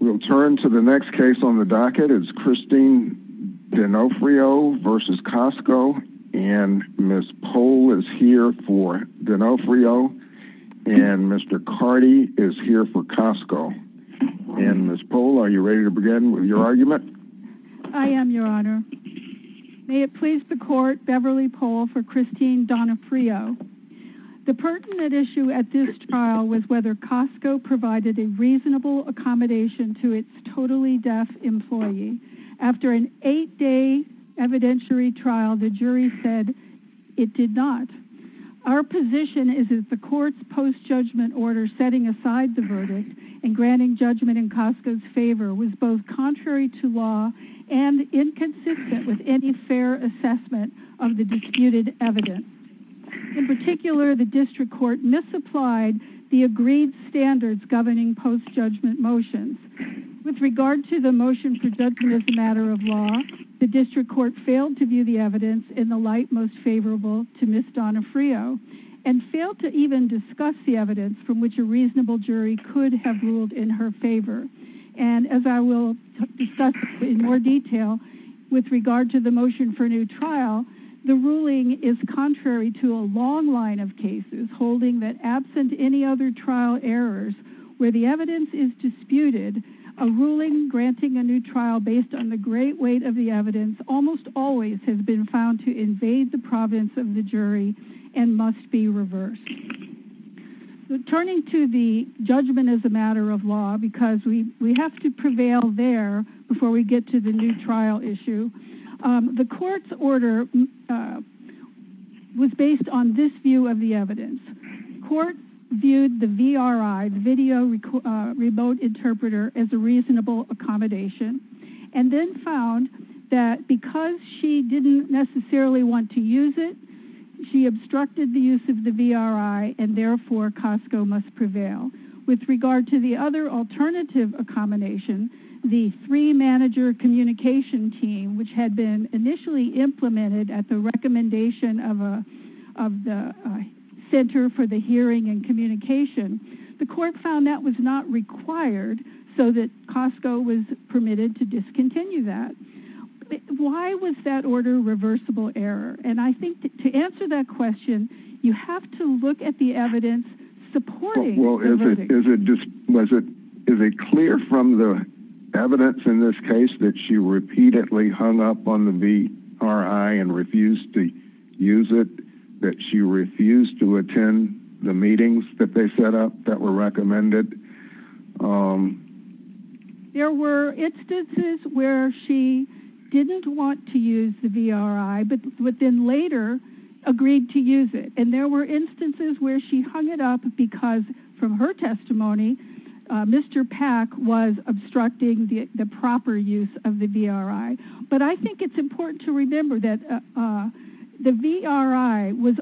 We'll turn to the next case on the docket. It's Christine D'Onofrio v. Costco and Ms. Pohl is here for D'Onofrio and Mr. Cardi is here for Costco. And Ms. Pohl, are you ready to begin with your argument? I am, Your Honor. May it please the Court, Beverly Pohl for Christine D'Onofrio. The pertinent issue at this trial was whether Costco provided a reasonable accommodation to its totally deaf employee. After an eight-day evidentiary trial, the jury said it did not. Our position is that the Court's post-judgment order setting aside the verdict and granting judgment in Costco's favor was both contrary to law and inconsistent with any fair assessment of the disputed evidence. In particular, the District Court misapplied the agreed standards governing post-judgment motions. With regard to the motion for judgment as a matter of law, the District Court failed to view the evidence in the light most favorable to Ms. D'Onofrio and failed to even discuss the evidence from which a reasonable jury could have ruled in her favor. And as I will discuss in more detail in a moment, the District Court has a long line of cases holding that absent any other trial errors where the evidence is disputed, a ruling granting a new trial based on the great weight of the evidence almost always has been found to invade the providence of the jury and must be reversed. So turning to the judgment as a matter of law, because we have to prevail there before we get to the new trial issue, the Court's order was based on this view of the evidence. Court viewed the VRI, the Video Remote Interpreter, as a reasonable accommodation and then found that because she didn't necessarily want to use it, she obstructed the use of the VRI and therefore Costco must prevail. With regard to the other alternative accommodation, the three-manager communication team, which had been initially implemented at the recommendation of the Center for the Hearing and Communication, the Court found that was not required so that Costco was permitted to discontinue that. Why was that order reversible error? And I think to answer that question, you have to look at the evidence supporting the verdict. Is it clear from the evidence in this case that she repeatedly hung up on the VRI and refused to use it, that she refused to attend the meetings that they set up that were recommended? There were instances where she didn't want to use the VRI but then later agreed to use it. And there were instances where she hung it up because from her testimony, Mr. Pack was obstructing the proper use of the VRI. But I think it's important to remember that the VRI was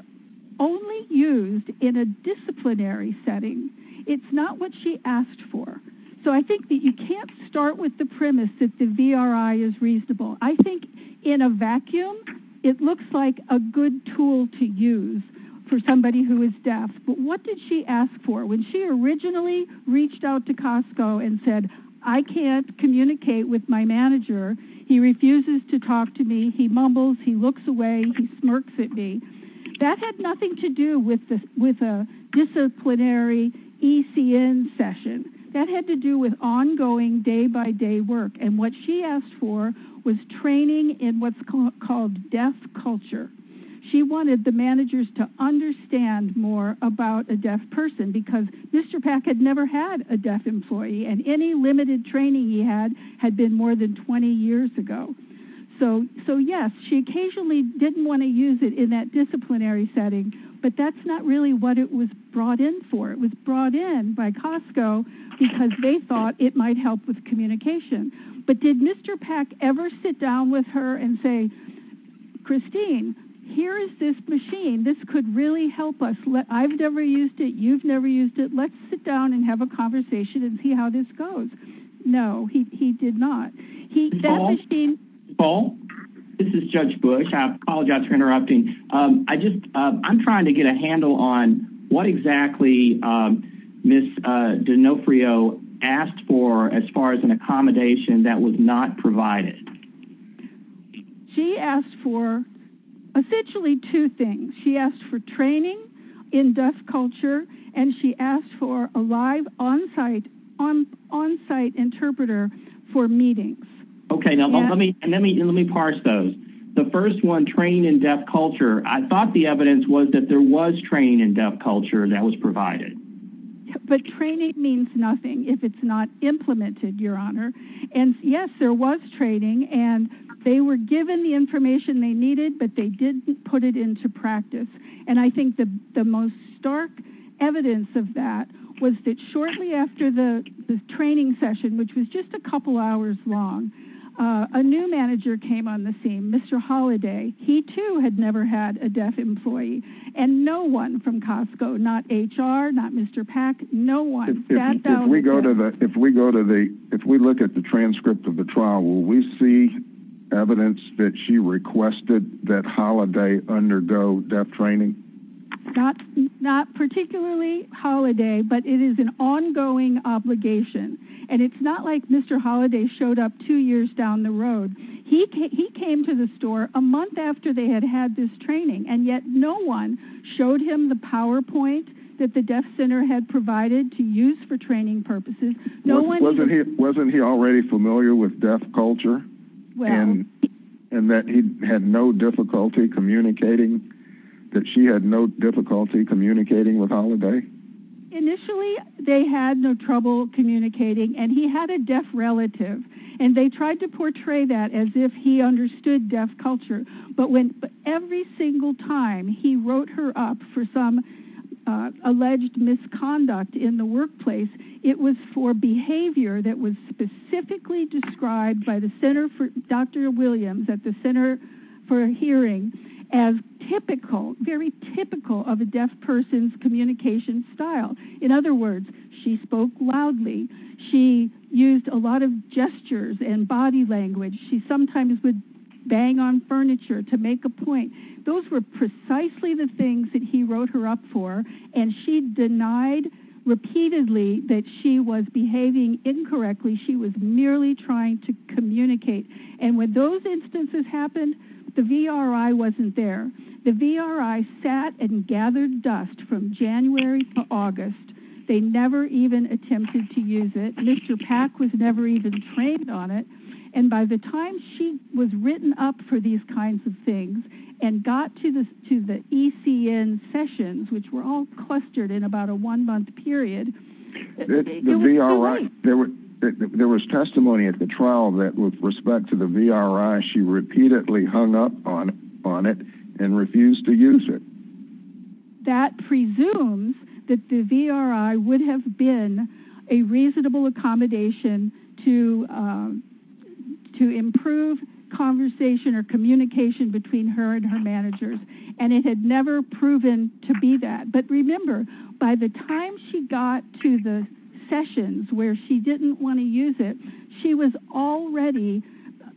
only used in a disciplinary setting. It's not what she asked for. So I think that you can't start with the premise that the VRI is reasonable. I think in a vacuum, it looks like a good tool to use for somebody who is deaf. But what did she ask for? When she originally reached out to Costco and said, I can't communicate with my manager, he refuses to talk to me, he mumbles, he looks away, he smirks at me. That had nothing to do with a disciplinary ECN session. That had to do with ongoing day-by-day work. And what she asked for was training in what's called deaf culture. She wanted the managers to understand more about a deaf person because Mr. Pack had never had a deaf employee and any limited training he had had been more than 20 years ago. So yes, she occasionally didn't want to use it in that disciplinary setting, but that's not really what it was brought in for. It was brought in by Costco because they thought it might help with communication. But did Mr. Pack ever sit down with her and say, Christine, here is this machine. This could really help us. I've never used it, you've never used it. Let's sit down and have a conversation and see how this goes. No, he did not. Paul, this is Judge Bush. I apologize for interrupting. I'm trying to get a handle on what exactly Ms. D'Onofrio asked for as far as an accommodation that was not provided. She asked for essentially two things. She asked for training in deaf culture and she asked for a live on-site interpreter for meetings. Okay, now let me parse those. The first one, training in deaf culture, I thought the evidence was that there was training in deaf culture that was provided. But training means nothing if it's not implemented, Your Honor. And yes, there was training, but they were given the information they needed, but they didn't put it into practice. And I think the most stark evidence of that was that shortly after the training session, which was just a couple hours long, a new manager came on the scene, Mr. Holliday. He too had never had a deaf employee and no one from Costco, not HR, not Mr. Pack, no one. If we go to the, if we look at the transcript of the trial, will we see evidence that she requested that Holliday undergo deaf training? Not particularly Holliday, but it is an ongoing obligation. And it's not like Mr. Holliday showed up two years down the road. He came to the store a month after they had had this training and yet no one showed him the PowerPoint that the deaf center had provided to use for training purposes. Wasn't he already familiar with deaf culture and that he had no difficulty communicating, that she had no difficulty communicating with Holliday? Initially, they had no trouble communicating and he had a deaf relative and they tried to he wrote her up for some alleged misconduct in the workplace. It was for behavior that was specifically described by the center for Dr. Williams at the center for hearing as typical, very typical of a deaf person's communication style. In other words, she spoke loudly. She used a lot of gestures and body language. She sometimes would bang on furniture to make a point. Those were precisely the things that he wrote her up for. And she denied repeatedly that she was behaving incorrectly. She was merely trying to communicate. And when those instances happened, the VRI wasn't there. The VRI sat and gathered dust from January to August. They never even attempted to use it. Mr. Pack was never even trained on it. And by the time she was written up for these kinds of things and got to the ECN sessions, which were all clustered in about a one month period. There was testimony at the trial that with respect to the VRI, she repeatedly hung up on it and refused to use it. That presumes that the VRI would have been a reasonable accommodation to improve conversation or communication between her and her managers. And it had never proven to be that. But remember, by the time she got to the sessions where she didn't want to use it, she was already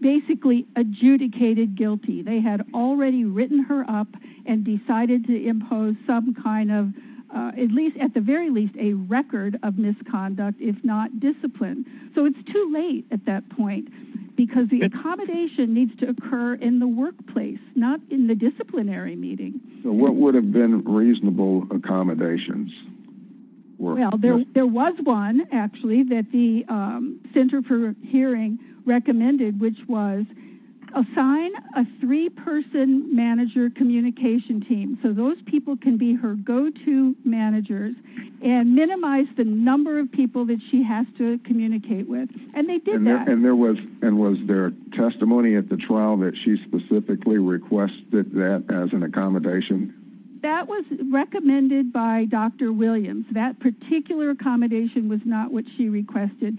basically adjudicated guilty. They had already written her up and decided to impose some kind of, at the very least, a record of misconduct, if not discipline. So it's too late at that point, because the accommodation needs to occur in the workplace, not in the disciplinary meeting. What would have been reasonable accommodations? There was one, actually, that the Center for Hearing recommended, which was assign a three-person manager communication team. So those people can be her go-to managers and minimize the number of people that she has to communicate with. And they did that. And was there testimony at the trial that she specifically requested that as an accommodation? That was recommended by Dr. Williams. That particular accommodation was not what she requested.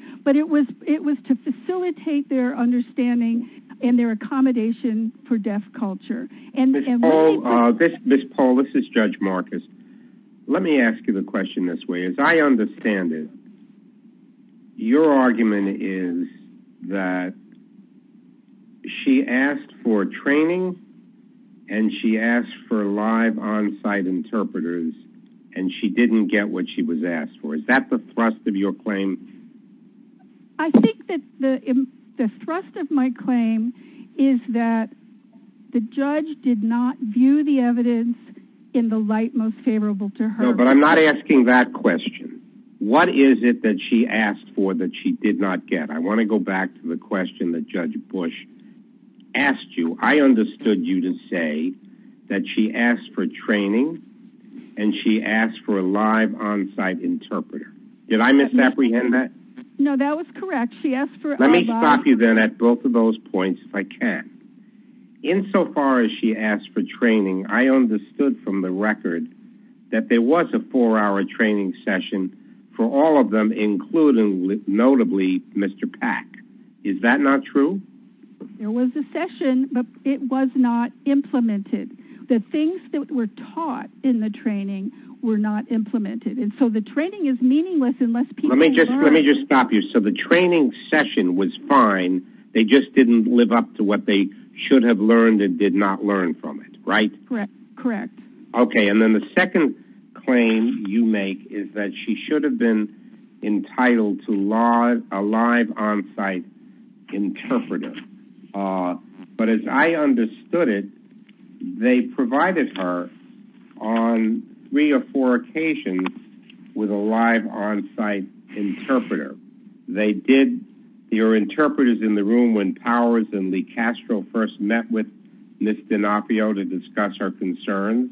Ms. Paul, this is Judge Marcus. Let me ask you the question this way. As I understand it, your argument is that she asked for training and she asked for live on-site interpreters and she didn't get what she was asked for. Is that the thrust of your claim? I think that the thrust of my claim is that the judge did not view the evidence in the light most favorable to her. No, but I'm not asking that question. What is it that she asked for that she did not get? I want to go back to the question that Judge Bush asked you. I understood you to say that she asked for training and she asked for a live on-site interpreter. Did I misapprehend that? No, that was correct. She asked for- Let me stop you then at both of those points if I can. Insofar as she asked for training, I understood from the record that there was a four-hour training session for all of them, including notably Mr. Pack. Is that not true? There was a session, but it was not implemented. The things that were taught in the training were not implemented. The training is meaningless unless people learn. Let me just stop you. The training session was fine. They just didn't live up to what they should have learned and did not learn from it, right? Correct. Correct. Okay. Then the second claim you make is that she should have been entitled to a live on-site interpreter, but as I understood it, they provided her on three or four occasions with a live on-site interpreter. There were interpreters in the room when Powers and Lee Castro first met with Ms. D'Onofrio to discuss her concerns.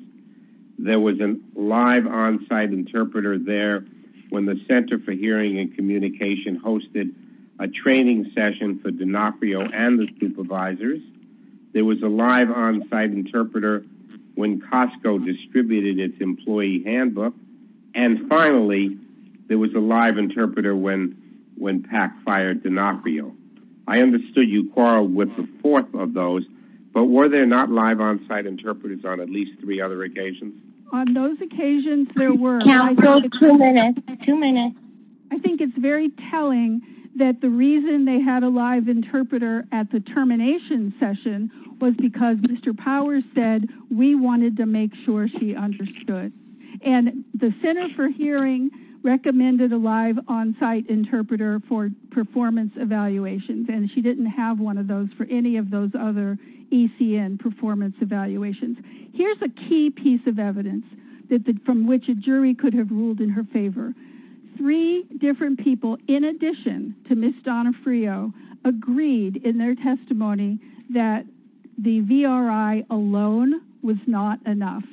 There was a live on-site interpreter there when the Center for Hearing and Communication hosted a training session for D'Onofrio and the supervisors. There was a live on-site interpreter when Costco distributed its employee handbook. Finally, there was a live interpreter when Pack fired D'Onofrio. I understood you, Carl, with the fourth of those, but were there not live on-site interpreters on at least three other occasions? On those occasions, there were. I think it's very telling that the reason they had a live interpreter at the termination session was because Mr. Powers said, we wanted to make sure she understood. The Center for Hearing recommended a live on-site interpreter for performance evaluations. She didn't have one of those for any of those other ECN performance evaluations. Here's a key piece of evidence from which a jury could have ruled in her favor. Three different people, in addition to Ms. D'Onofrio, agreed in their testimony that the VRI alone was not enough.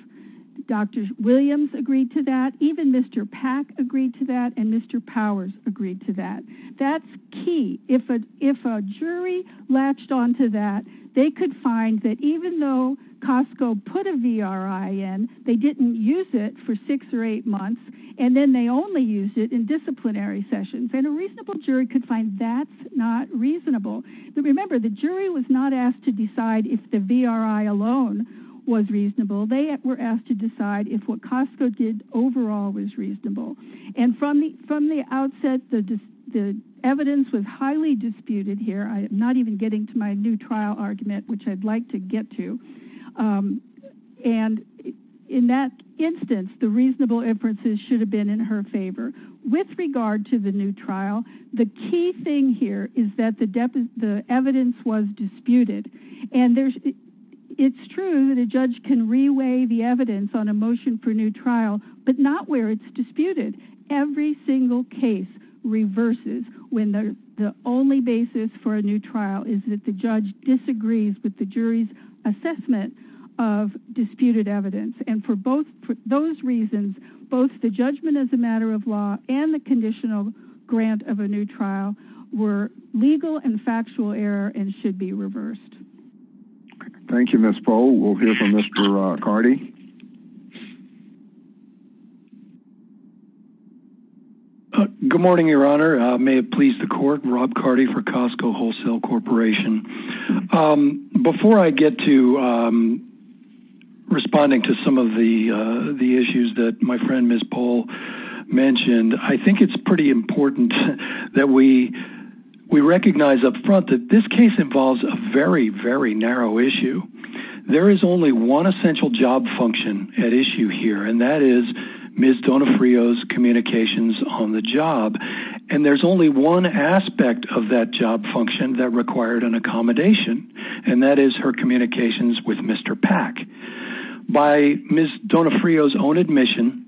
Dr. Williams agreed to that, even Mr. Pack agreed to that, and Mr. Powers agreed to that. That's key. If a jury latched onto that, they could find that even though Costco put a VRI in, they didn't use it for six or eight months. Then they only used it in disciplinary sessions. A reasonable jury could find that's not reasonable. Remember, the jury was not asked to decide if the VRI alone was reasonable. They were asked to decide if what Costco did overall was reasonable. From the outset, the evidence was highly disputed here. I'm not even getting to my new trial argument, which I'd like to get to. In that instance, the reasonable inferences should have been in her favor. With regard to the new trial, the key thing here is that the evidence was disputed. It's true that a judge can reweigh the evidence on a motion for new trial, but not where it's reversed when the only basis for a new trial is that the judge disagrees with the jury's assessment of disputed evidence. For those reasons, both the judgment as a matter of law and the conditional grant of a new trial were legal and factual error and should be reversed. Thank you, Ms. Poe. We'll hear from Mr. Cardi. Good morning, Your Honor. May it please the court, Rob Cardi for Costco Wholesale Corporation. Before I get to responding to some of the issues that my friend Ms. Poe mentioned, I think it's pretty important that we recognize up front that this case involves a very, very narrow issue. There is only one essential job function at issue here, and that is Ms. Donofrio's communications on the job. There's only one aspect of that job function that required an accommodation, and that is her communications with Mr. Pack. By Ms. Donofrio's own admission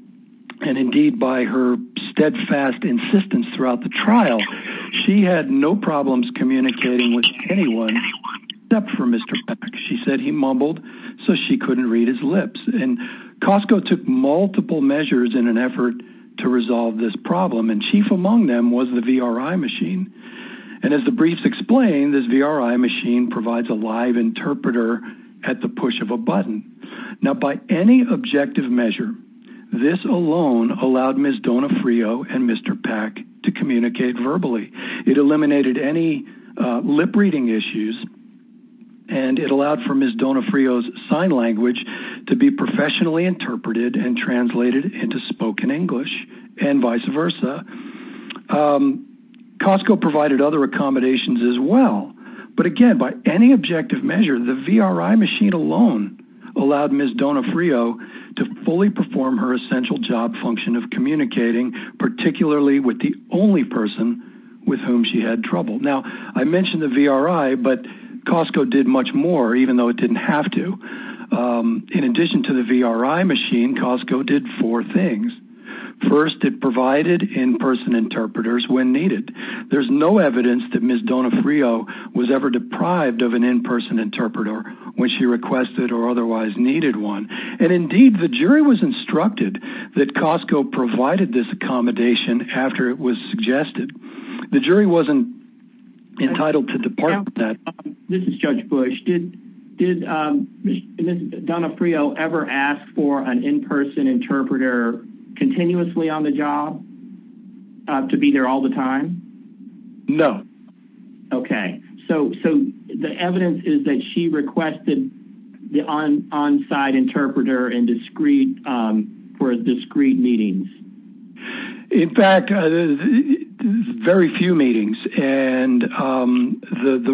and indeed by her steadfast insistence throughout the trial, she had no problems communicating with anyone except for Mr. Pack. She said he mumbled so she couldn't read his lips. Costco took multiple measures in an effort to resolve this problem, and chief among them was the VRI machine. As the briefs explain, this VRI machine provides a live interpreter at the push of a button. Now, by any objective measure, this alone allowed Ms. Donofrio and Mr. Pack to communicate verbally. It eliminated any lip-reading issues, and it allowed for Ms. Donofrio's sign language to be professionally interpreted and translated into spoken English and vice versa. Costco provided other accommodations as well, but again, by any objective measure, the VRI machine alone allowed Ms. Donofrio to fully perform her essential job function of communicating, particularly with the only person with whom she had trouble. Now, I mentioned the VRI, but Costco did much more even though it didn't have to. In addition to the VRI machine, Costco did four things. First, it provided in-person interpreters when needed. There's no evidence that Ms. Donofrio was ever deprived of an in-person interpreter when she requested or otherwise needed one. Indeed, the jury was instructed that Costco provided this accommodation after it was suggested. The jury wasn't entitled to depart from that. This is Judge Bush. Did Ms. Donofrio ever ask for an in-person interpreter continuously on the job to be there all the time? No. Okay. So, the evidence is that she requested the on-site interpreter for discrete meetings. In fact, very few meetings. The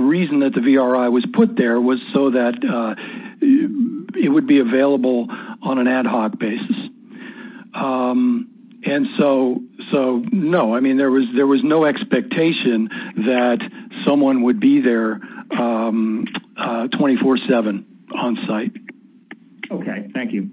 reason that the VRI was put there was so that it would be available on an ad hoc basis. So, no. I mean, there was no expectation that someone would be there 24-7 on-site. Okay. Thank you.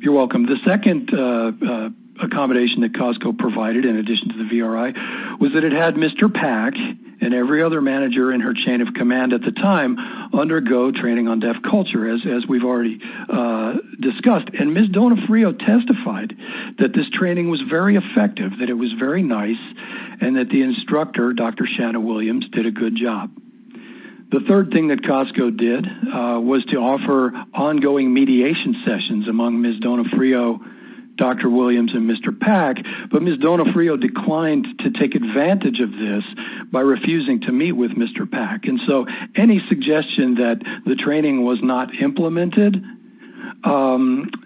You're welcome. The second accommodation that Costco provided in addition to the VRI was that it had Mr. Pack and every other manager in her chain of command at the time undergo training on deaf culture, as we've already discussed. Ms. Donofrio testified that this training was very effective, that it was very nice, and that the instructor, Dr. Shanna Williams, did a good job. The third thing that Costco did was to offer ongoing mediation sessions among Ms. Donofrio, Dr. Williams, and Mr. Pack. But Ms. Donofrio declined to take advantage of this by refusing to meet with Mr. Pack. So, any suggestion that the training was not implemented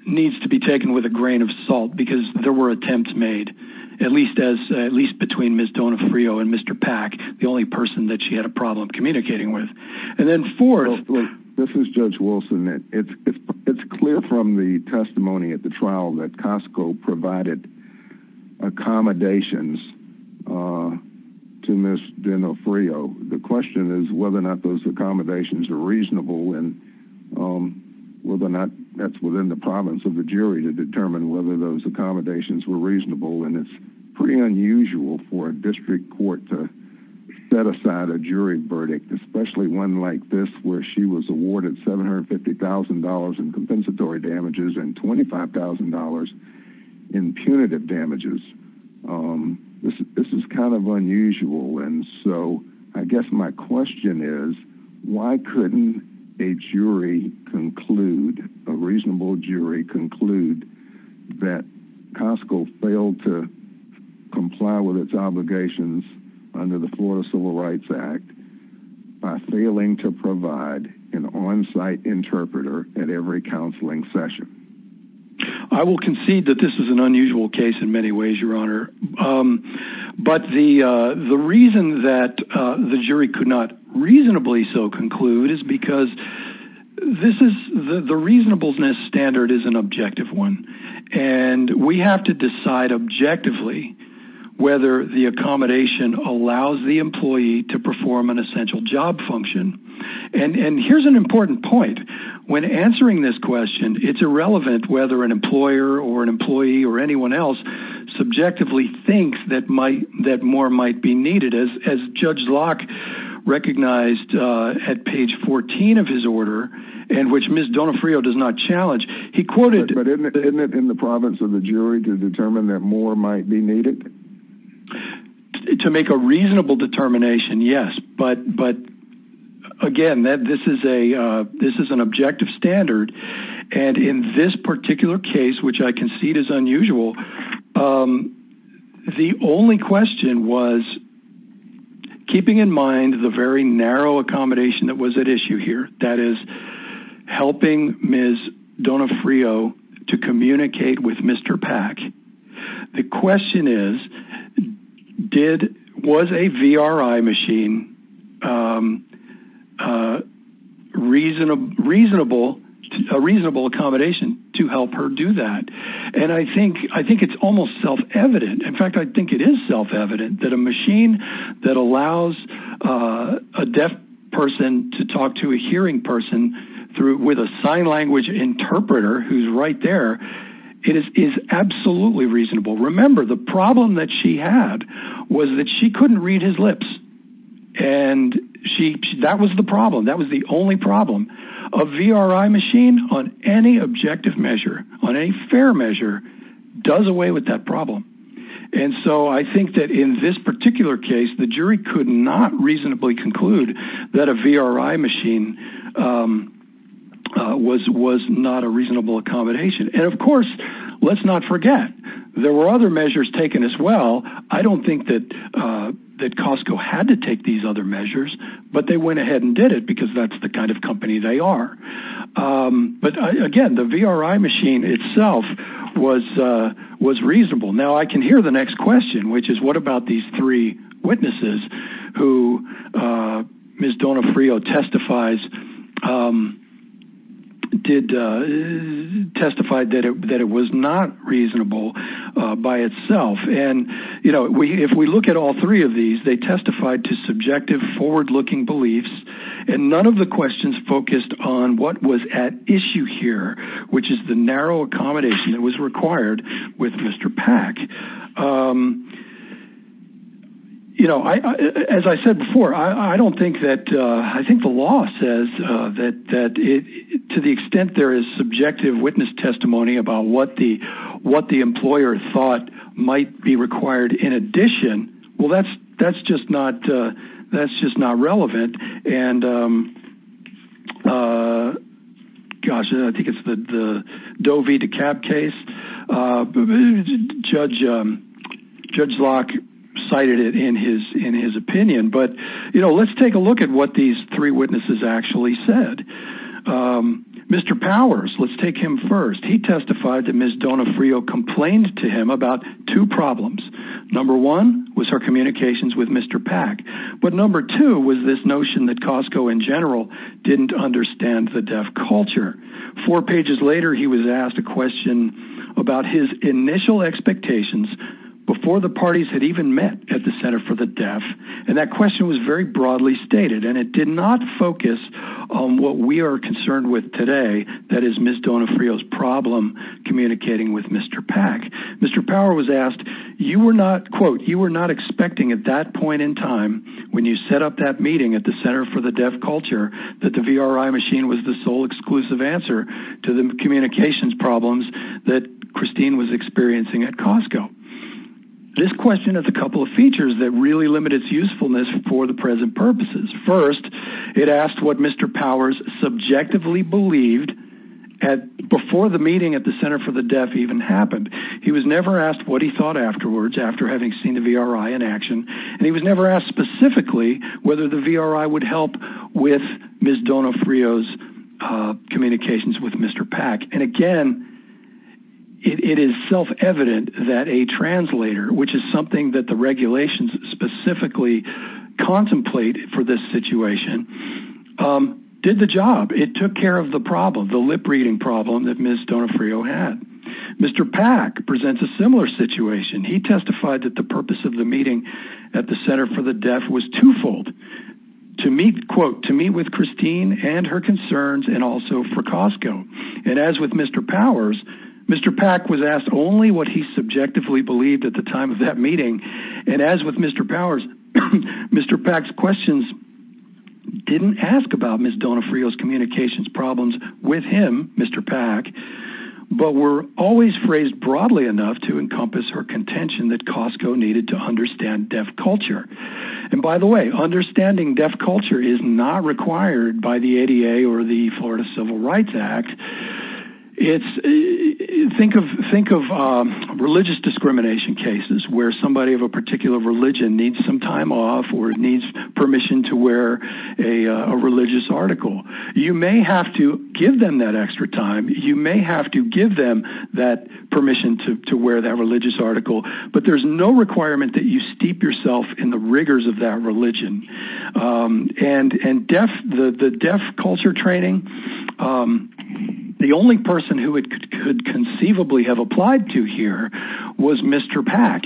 needs to be taken with a grain of salt because there were attempts made, at least between Ms. Donofrio and Mr. Pack, the only person that she had a problem communicating with. And then fourth- This is Judge Wilson. It's clear from the testimony at the trial that Costco provided accommodations to Ms. Donofrio. The question is whether or not those accommodations are reasonable and whether or not that's within the province of the jury to determine whether those accommodations were reasonable. And it's pretty unusual for a district court to set aside a jury verdict, especially one like this, where she was awarded $750,000 in compensatory damages and $25,000 in punitive damages. This is kind of unusual. And so, I guess my question is, why couldn't a jury conclude, a reasonable jury conclude, that Costco failed to comply with its obligations under the Florida Civil Rights Act by failing to provide an on-site interpreter at every time? I will concede that this is an unusual case in many ways, Your Honor. But the reason that the jury could not reasonably so conclude is because the reasonableness standard is an objective one. And we have to decide objectively whether the accommodation allows the employee to perform an essential job function. And here's an important point. When answering this question, it's irrelevant whether an employer or an employee or anyone else subjectively thinks that more might be needed. As Judge Locke recognized at page 14 of his order, and which Ms. Donofrio does not challenge, he quoted- But isn't it in the province of the jury to determine that more might be needed? To make a reasonable determination, yes. But again, this is an objective standard. And in this particular case, which I concede is unusual, the only question was keeping in mind the very narrow accommodation that was at issue here, that is helping Ms. Donofrio to communicate with Mr. Pack. The question is, was a VRI machine a reasonable accommodation to help her do that? And I think it's almost self-evident. In fact, I think it is self-evident that a machine that allows a deaf person to talk to a hearing person with a sign language interpreter who's right there is absolutely reasonable. Remember, the problem that she had was that she couldn't read his lips. And that was the problem. That was the only problem. A VRI machine on any objective measure, on any fair measure, does away with that problem. And so I think that in this particular case, the jury could not reasonably conclude that a VRI machine was not a reasonable accommodation. And of course, let's not forget, there were other measures taken as well. I don't think that Costco had to take these other measures, but they went ahead and did it because that's the kind of company they are. But again, the VRI machine itself was reasonable. Now I can hear the next question, which is what about these three witnesses who Ms. Donofrio testified that it was not reasonable by itself? And if we look at all three of these, they testified to subjective, forward-looking beliefs, and none of the questions focused on what was at issue here, which is the narrow accommodation that was required with Mr. Pack. As I said before, I don't think that, I think the law says that to the extent there is subjective witness testimony about what the employer thought might be required in addition, well, that's just not relevant. And gosh, I think it's the Doe v. DeKalb case. Judge Locke cited it in his opinion, but let's take a look at what these three witnesses actually said. Mr. Powers, let's take him first. He testified that Ms. Donofrio complained to him about two problems. Number one was her communications with Mr. Pack. But number two was this notion that Costco in general didn't understand the deaf culture. Four pages later, he was asked a question about his initial expectations before the parties had even met at the Center for the Deaf. And that question was very broadly stated, and it did not focus on what we are concerned with today, that is Ms. Donofrio's problem communicating with Mr. Pack. Mr. Power was asked, you were not, quote, you were not expecting at that point in time when you set up that meeting at the Center for the Deaf Culture that the VRI machine was the sole exclusive answer to the communications problems that Christine was experiencing at Costco. This question has a couple of features that really limit its usefulness for the present purposes. First, it asked what Mr. Powers subjectively believed before the meeting at the Center for the Deaf even happened. He was never asked what he thought afterwards after having seen the VRI in action, and he was never asked specifically whether the VRI would help with Ms. Donofrio's Mr. Pack. And again, it is self-evident that a translator, which is something that the regulations specifically contemplate for this situation, did the job. It took care of the problem, the lip-reading problem that Ms. Donofrio had. Mr. Pack presents a similar situation. He testified that the purpose of the meeting at the Center for the Deaf was twofold, to meet, quote, to meet with And as with Mr. Powers, Mr. Pack was asked only what he subjectively believed at the time of that meeting. And as with Mr. Powers, Mr. Pack's questions didn't ask about Ms. Donofrio's communications problems with him, Mr. Pack, but were always phrased broadly enough to encompass her contention that Costco needed to understand Deaf culture. And by the way, understanding Deaf rights act, think of religious discrimination cases where somebody of a particular religion needs some time off or needs permission to wear a religious article. You may have to give them that extra time. You may have to give them that permission to wear that religious article, but there's no requirement that you steep yourself in the rigors of that religion. And the Deaf culture training, the only person who it could conceivably have applied to here was Mr. Pack,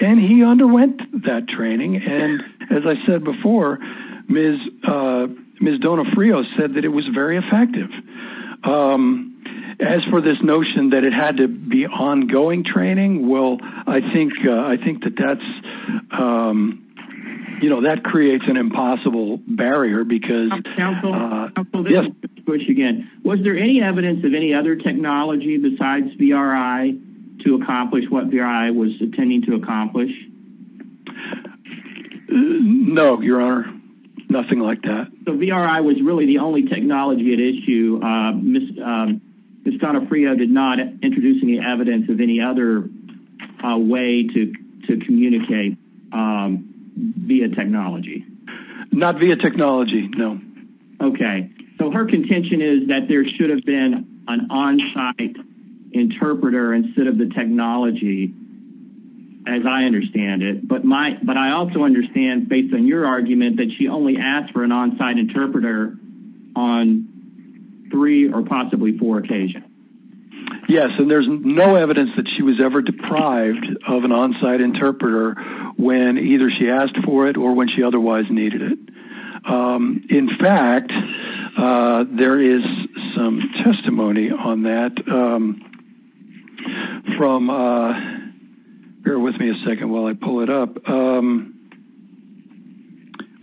and he underwent that training. And as I said before, Ms. Donofrio said that it was very effective. As for this notion that it had to be ongoing training, well, I think that that's, um, you know, that creates an impossible barrier because, uh, yes, was there any evidence of any other technology besides VRI to accomplish what VRI was intending to accomplish? No, your honor, nothing like that. So VRI was really the only technology at issue. Ms. Donofrio did not introduce any evidence of any other way to, to communicate, um, via technology, not via technology. No. Okay. So her contention is that there should have been an onsite interpreter instead of the technology as I understand it. But my, but I also understand based on your argument that she only asked for an onsite interpreter on three or possibly four occasions. Yes. And there's no evidence that she was ever deprived of an onsite interpreter when either she asked for it or when she otherwise needed it. Um, in fact, uh, there is some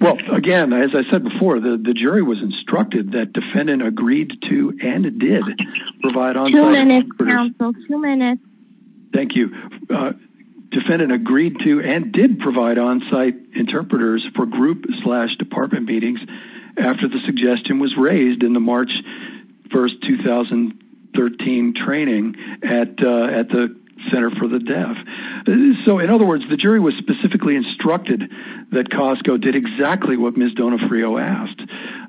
Well, again, as I said before, the jury was instructed that defendant agreed to, and it did provide on two minutes. Thank you. Uh, defendant agreed to, and did provide onsite interpreters for group slash department meetings after the suggestion was raised in the March 1st, 2013 training at, uh, at the center for the deaf. So in other words, the jury was specifically instructed that Costco did exactly what Ms. Donofrio asked.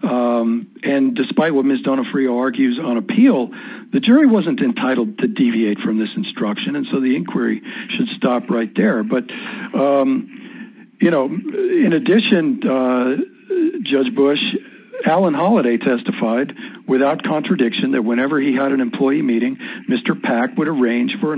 Um, and despite what Ms. Donofrio argues on appeal, the jury wasn't entitled to deviate from this instruction. And so the inquiry should stop right there. But, um, you know, in addition, uh, judge Bush, Alan holiday testified without contradiction that whenever he had an employee meeting, Mr. Pack would arrange for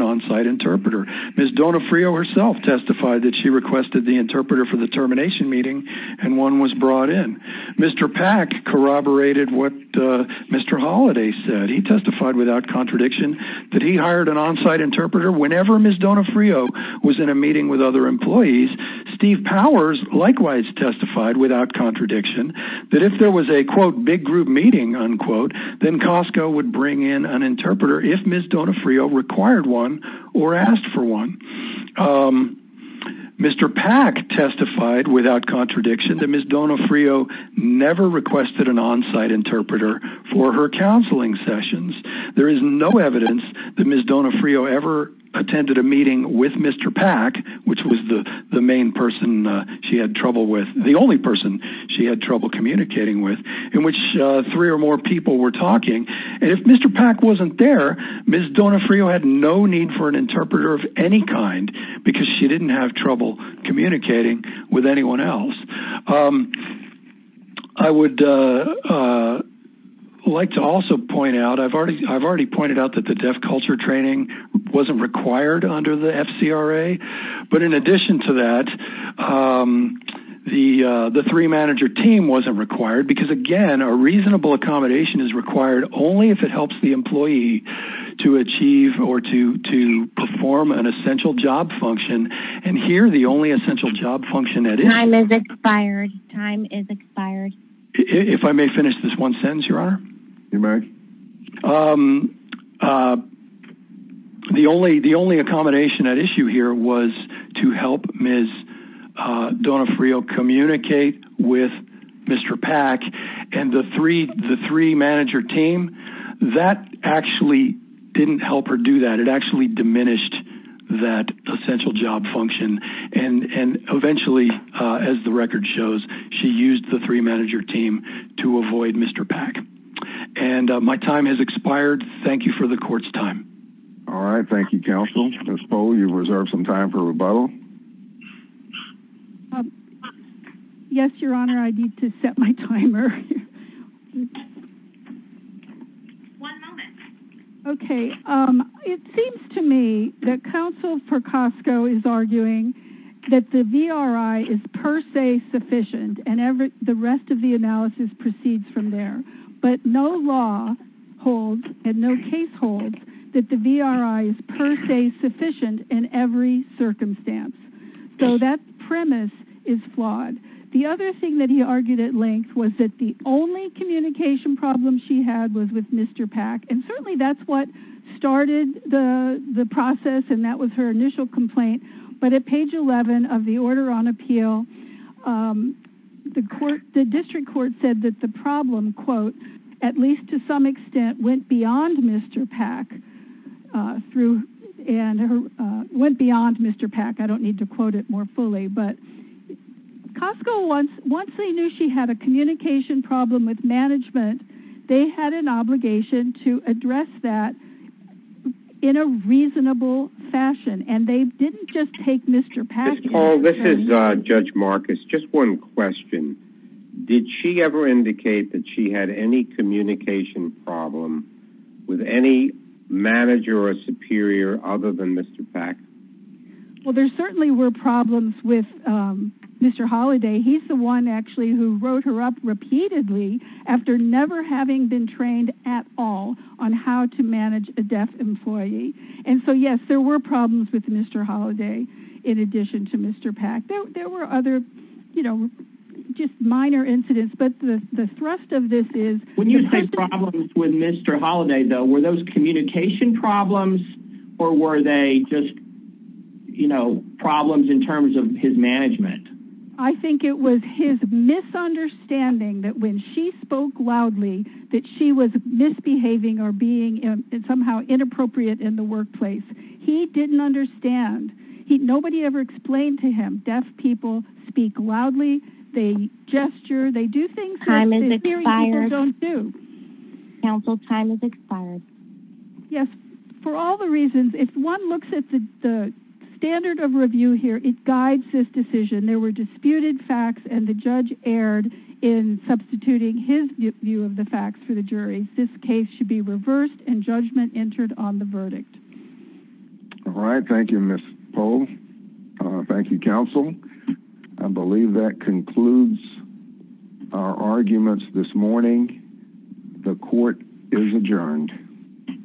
the interpreter for the termination meeting. And one was brought in Mr. Pack corroborated what, uh, Mr. Holiday said he testified without contradiction that he hired an onsite interpreter. Whenever Ms. Donofrio was in a meeting with other employees, Steve powers, likewise testified without contradiction that if there was a quote big group meeting unquote, then Costco would bring in an interpreter. If Ms. Donofrio required one or asked for one, um, Mr. Pack testified without contradiction that Ms. Donofrio never requested an onsite interpreter for her counseling sessions. There is no evidence that Ms. Donofrio ever attended a meeting with Mr. Pack, which was the main person. Uh, she had trouble with the only person she had trouble communicating with in which, uh, three or more people were talking. And if Mr. Pack wasn't there, Ms. Donofrio had no need for an interpreter of any kind because she didn't have trouble communicating with anyone else. Um, I would, uh, uh, like to also point out, I've already, I've already pointed out that the deaf culture training wasn't required under the FCRA, but in addition to that, um, the, uh, the three manager team wasn't required because again, a reasonable accommodation is required only if it helps the employee to achieve or to, to perform an essential job function. And here, the only essential job function that is expired time is expired. If I may finish this one sentence, your honor, um, uh, the only, the only accommodation at issue here was to help Ms. Donofrio communicate with Mr. Pack and the three, the three manager team that actually didn't help her do that. It actually diminished that essential job function. And, and eventually, uh, as the record shows, she used the three manager team to avoid Mr. Pack and, uh, my time has expired. Thank you for the court's time. All right. Thank you, counsel. I suppose you've reserved some time for rebuttal. Yes, your honor. I need to set my timer. One moment. Okay. Um, it seems to me that counsel for Costco is arguing that the VRI is per se sufficient and every, the rest of the analysis proceeds from there, but no law holds and no case holds that the VRI is per se sufficient in every circumstance. So that premise is flawed. The other thing that he argued at length was that the only communication problem she had was with Mr. Pack. And certainly that's what started the process. And that was her initial complaint. But at page 11 of the order on appeal, um, the court, the district court said that the problem at least to some extent went beyond Mr. Pack, uh, through and, uh, went beyond Mr. Pack. I don't need to quote it more fully, but Costco wants, once they knew she had a communication problem with management, they had an obligation to address that in a reasonable fashion. And they didn't just take Mr. Pack. Paul, this is a judge Marcus. Just one question. Did she ever indicate that she had any communication problem with any manager or a superior other than Mr. Pack? Well, there certainly were problems with, um, Mr. Holiday. He's the one actually who wrote her up repeatedly after never having been trained at all on how to manage a deaf employee. And so, yes, there were problems with Mr. Holiday. In addition to Mr. Pack, there were other, you know, just When you say problems with Mr. Holiday though, were those communication problems or were they just, you know, problems in terms of his management? I think it was his misunderstanding that when she spoke loudly, that she was misbehaving or being somehow inappropriate in the workplace. He didn't understand. He, nobody ever explained to him. Deaf people speak loudly, they gesture, they do things that superior people don't do. Counsel, time has expired. Yes. For all the reasons, if one looks at the standard of review here, it guides this decision. There were disputed facts and the judge erred in substituting his view of the facts for the jury. This case should be reversed and judgment entered on the verdict. All right. Thank you, Ms. Pohl. Thank you, counsel. I believe that concludes our arguments this morning. The court is adjourned.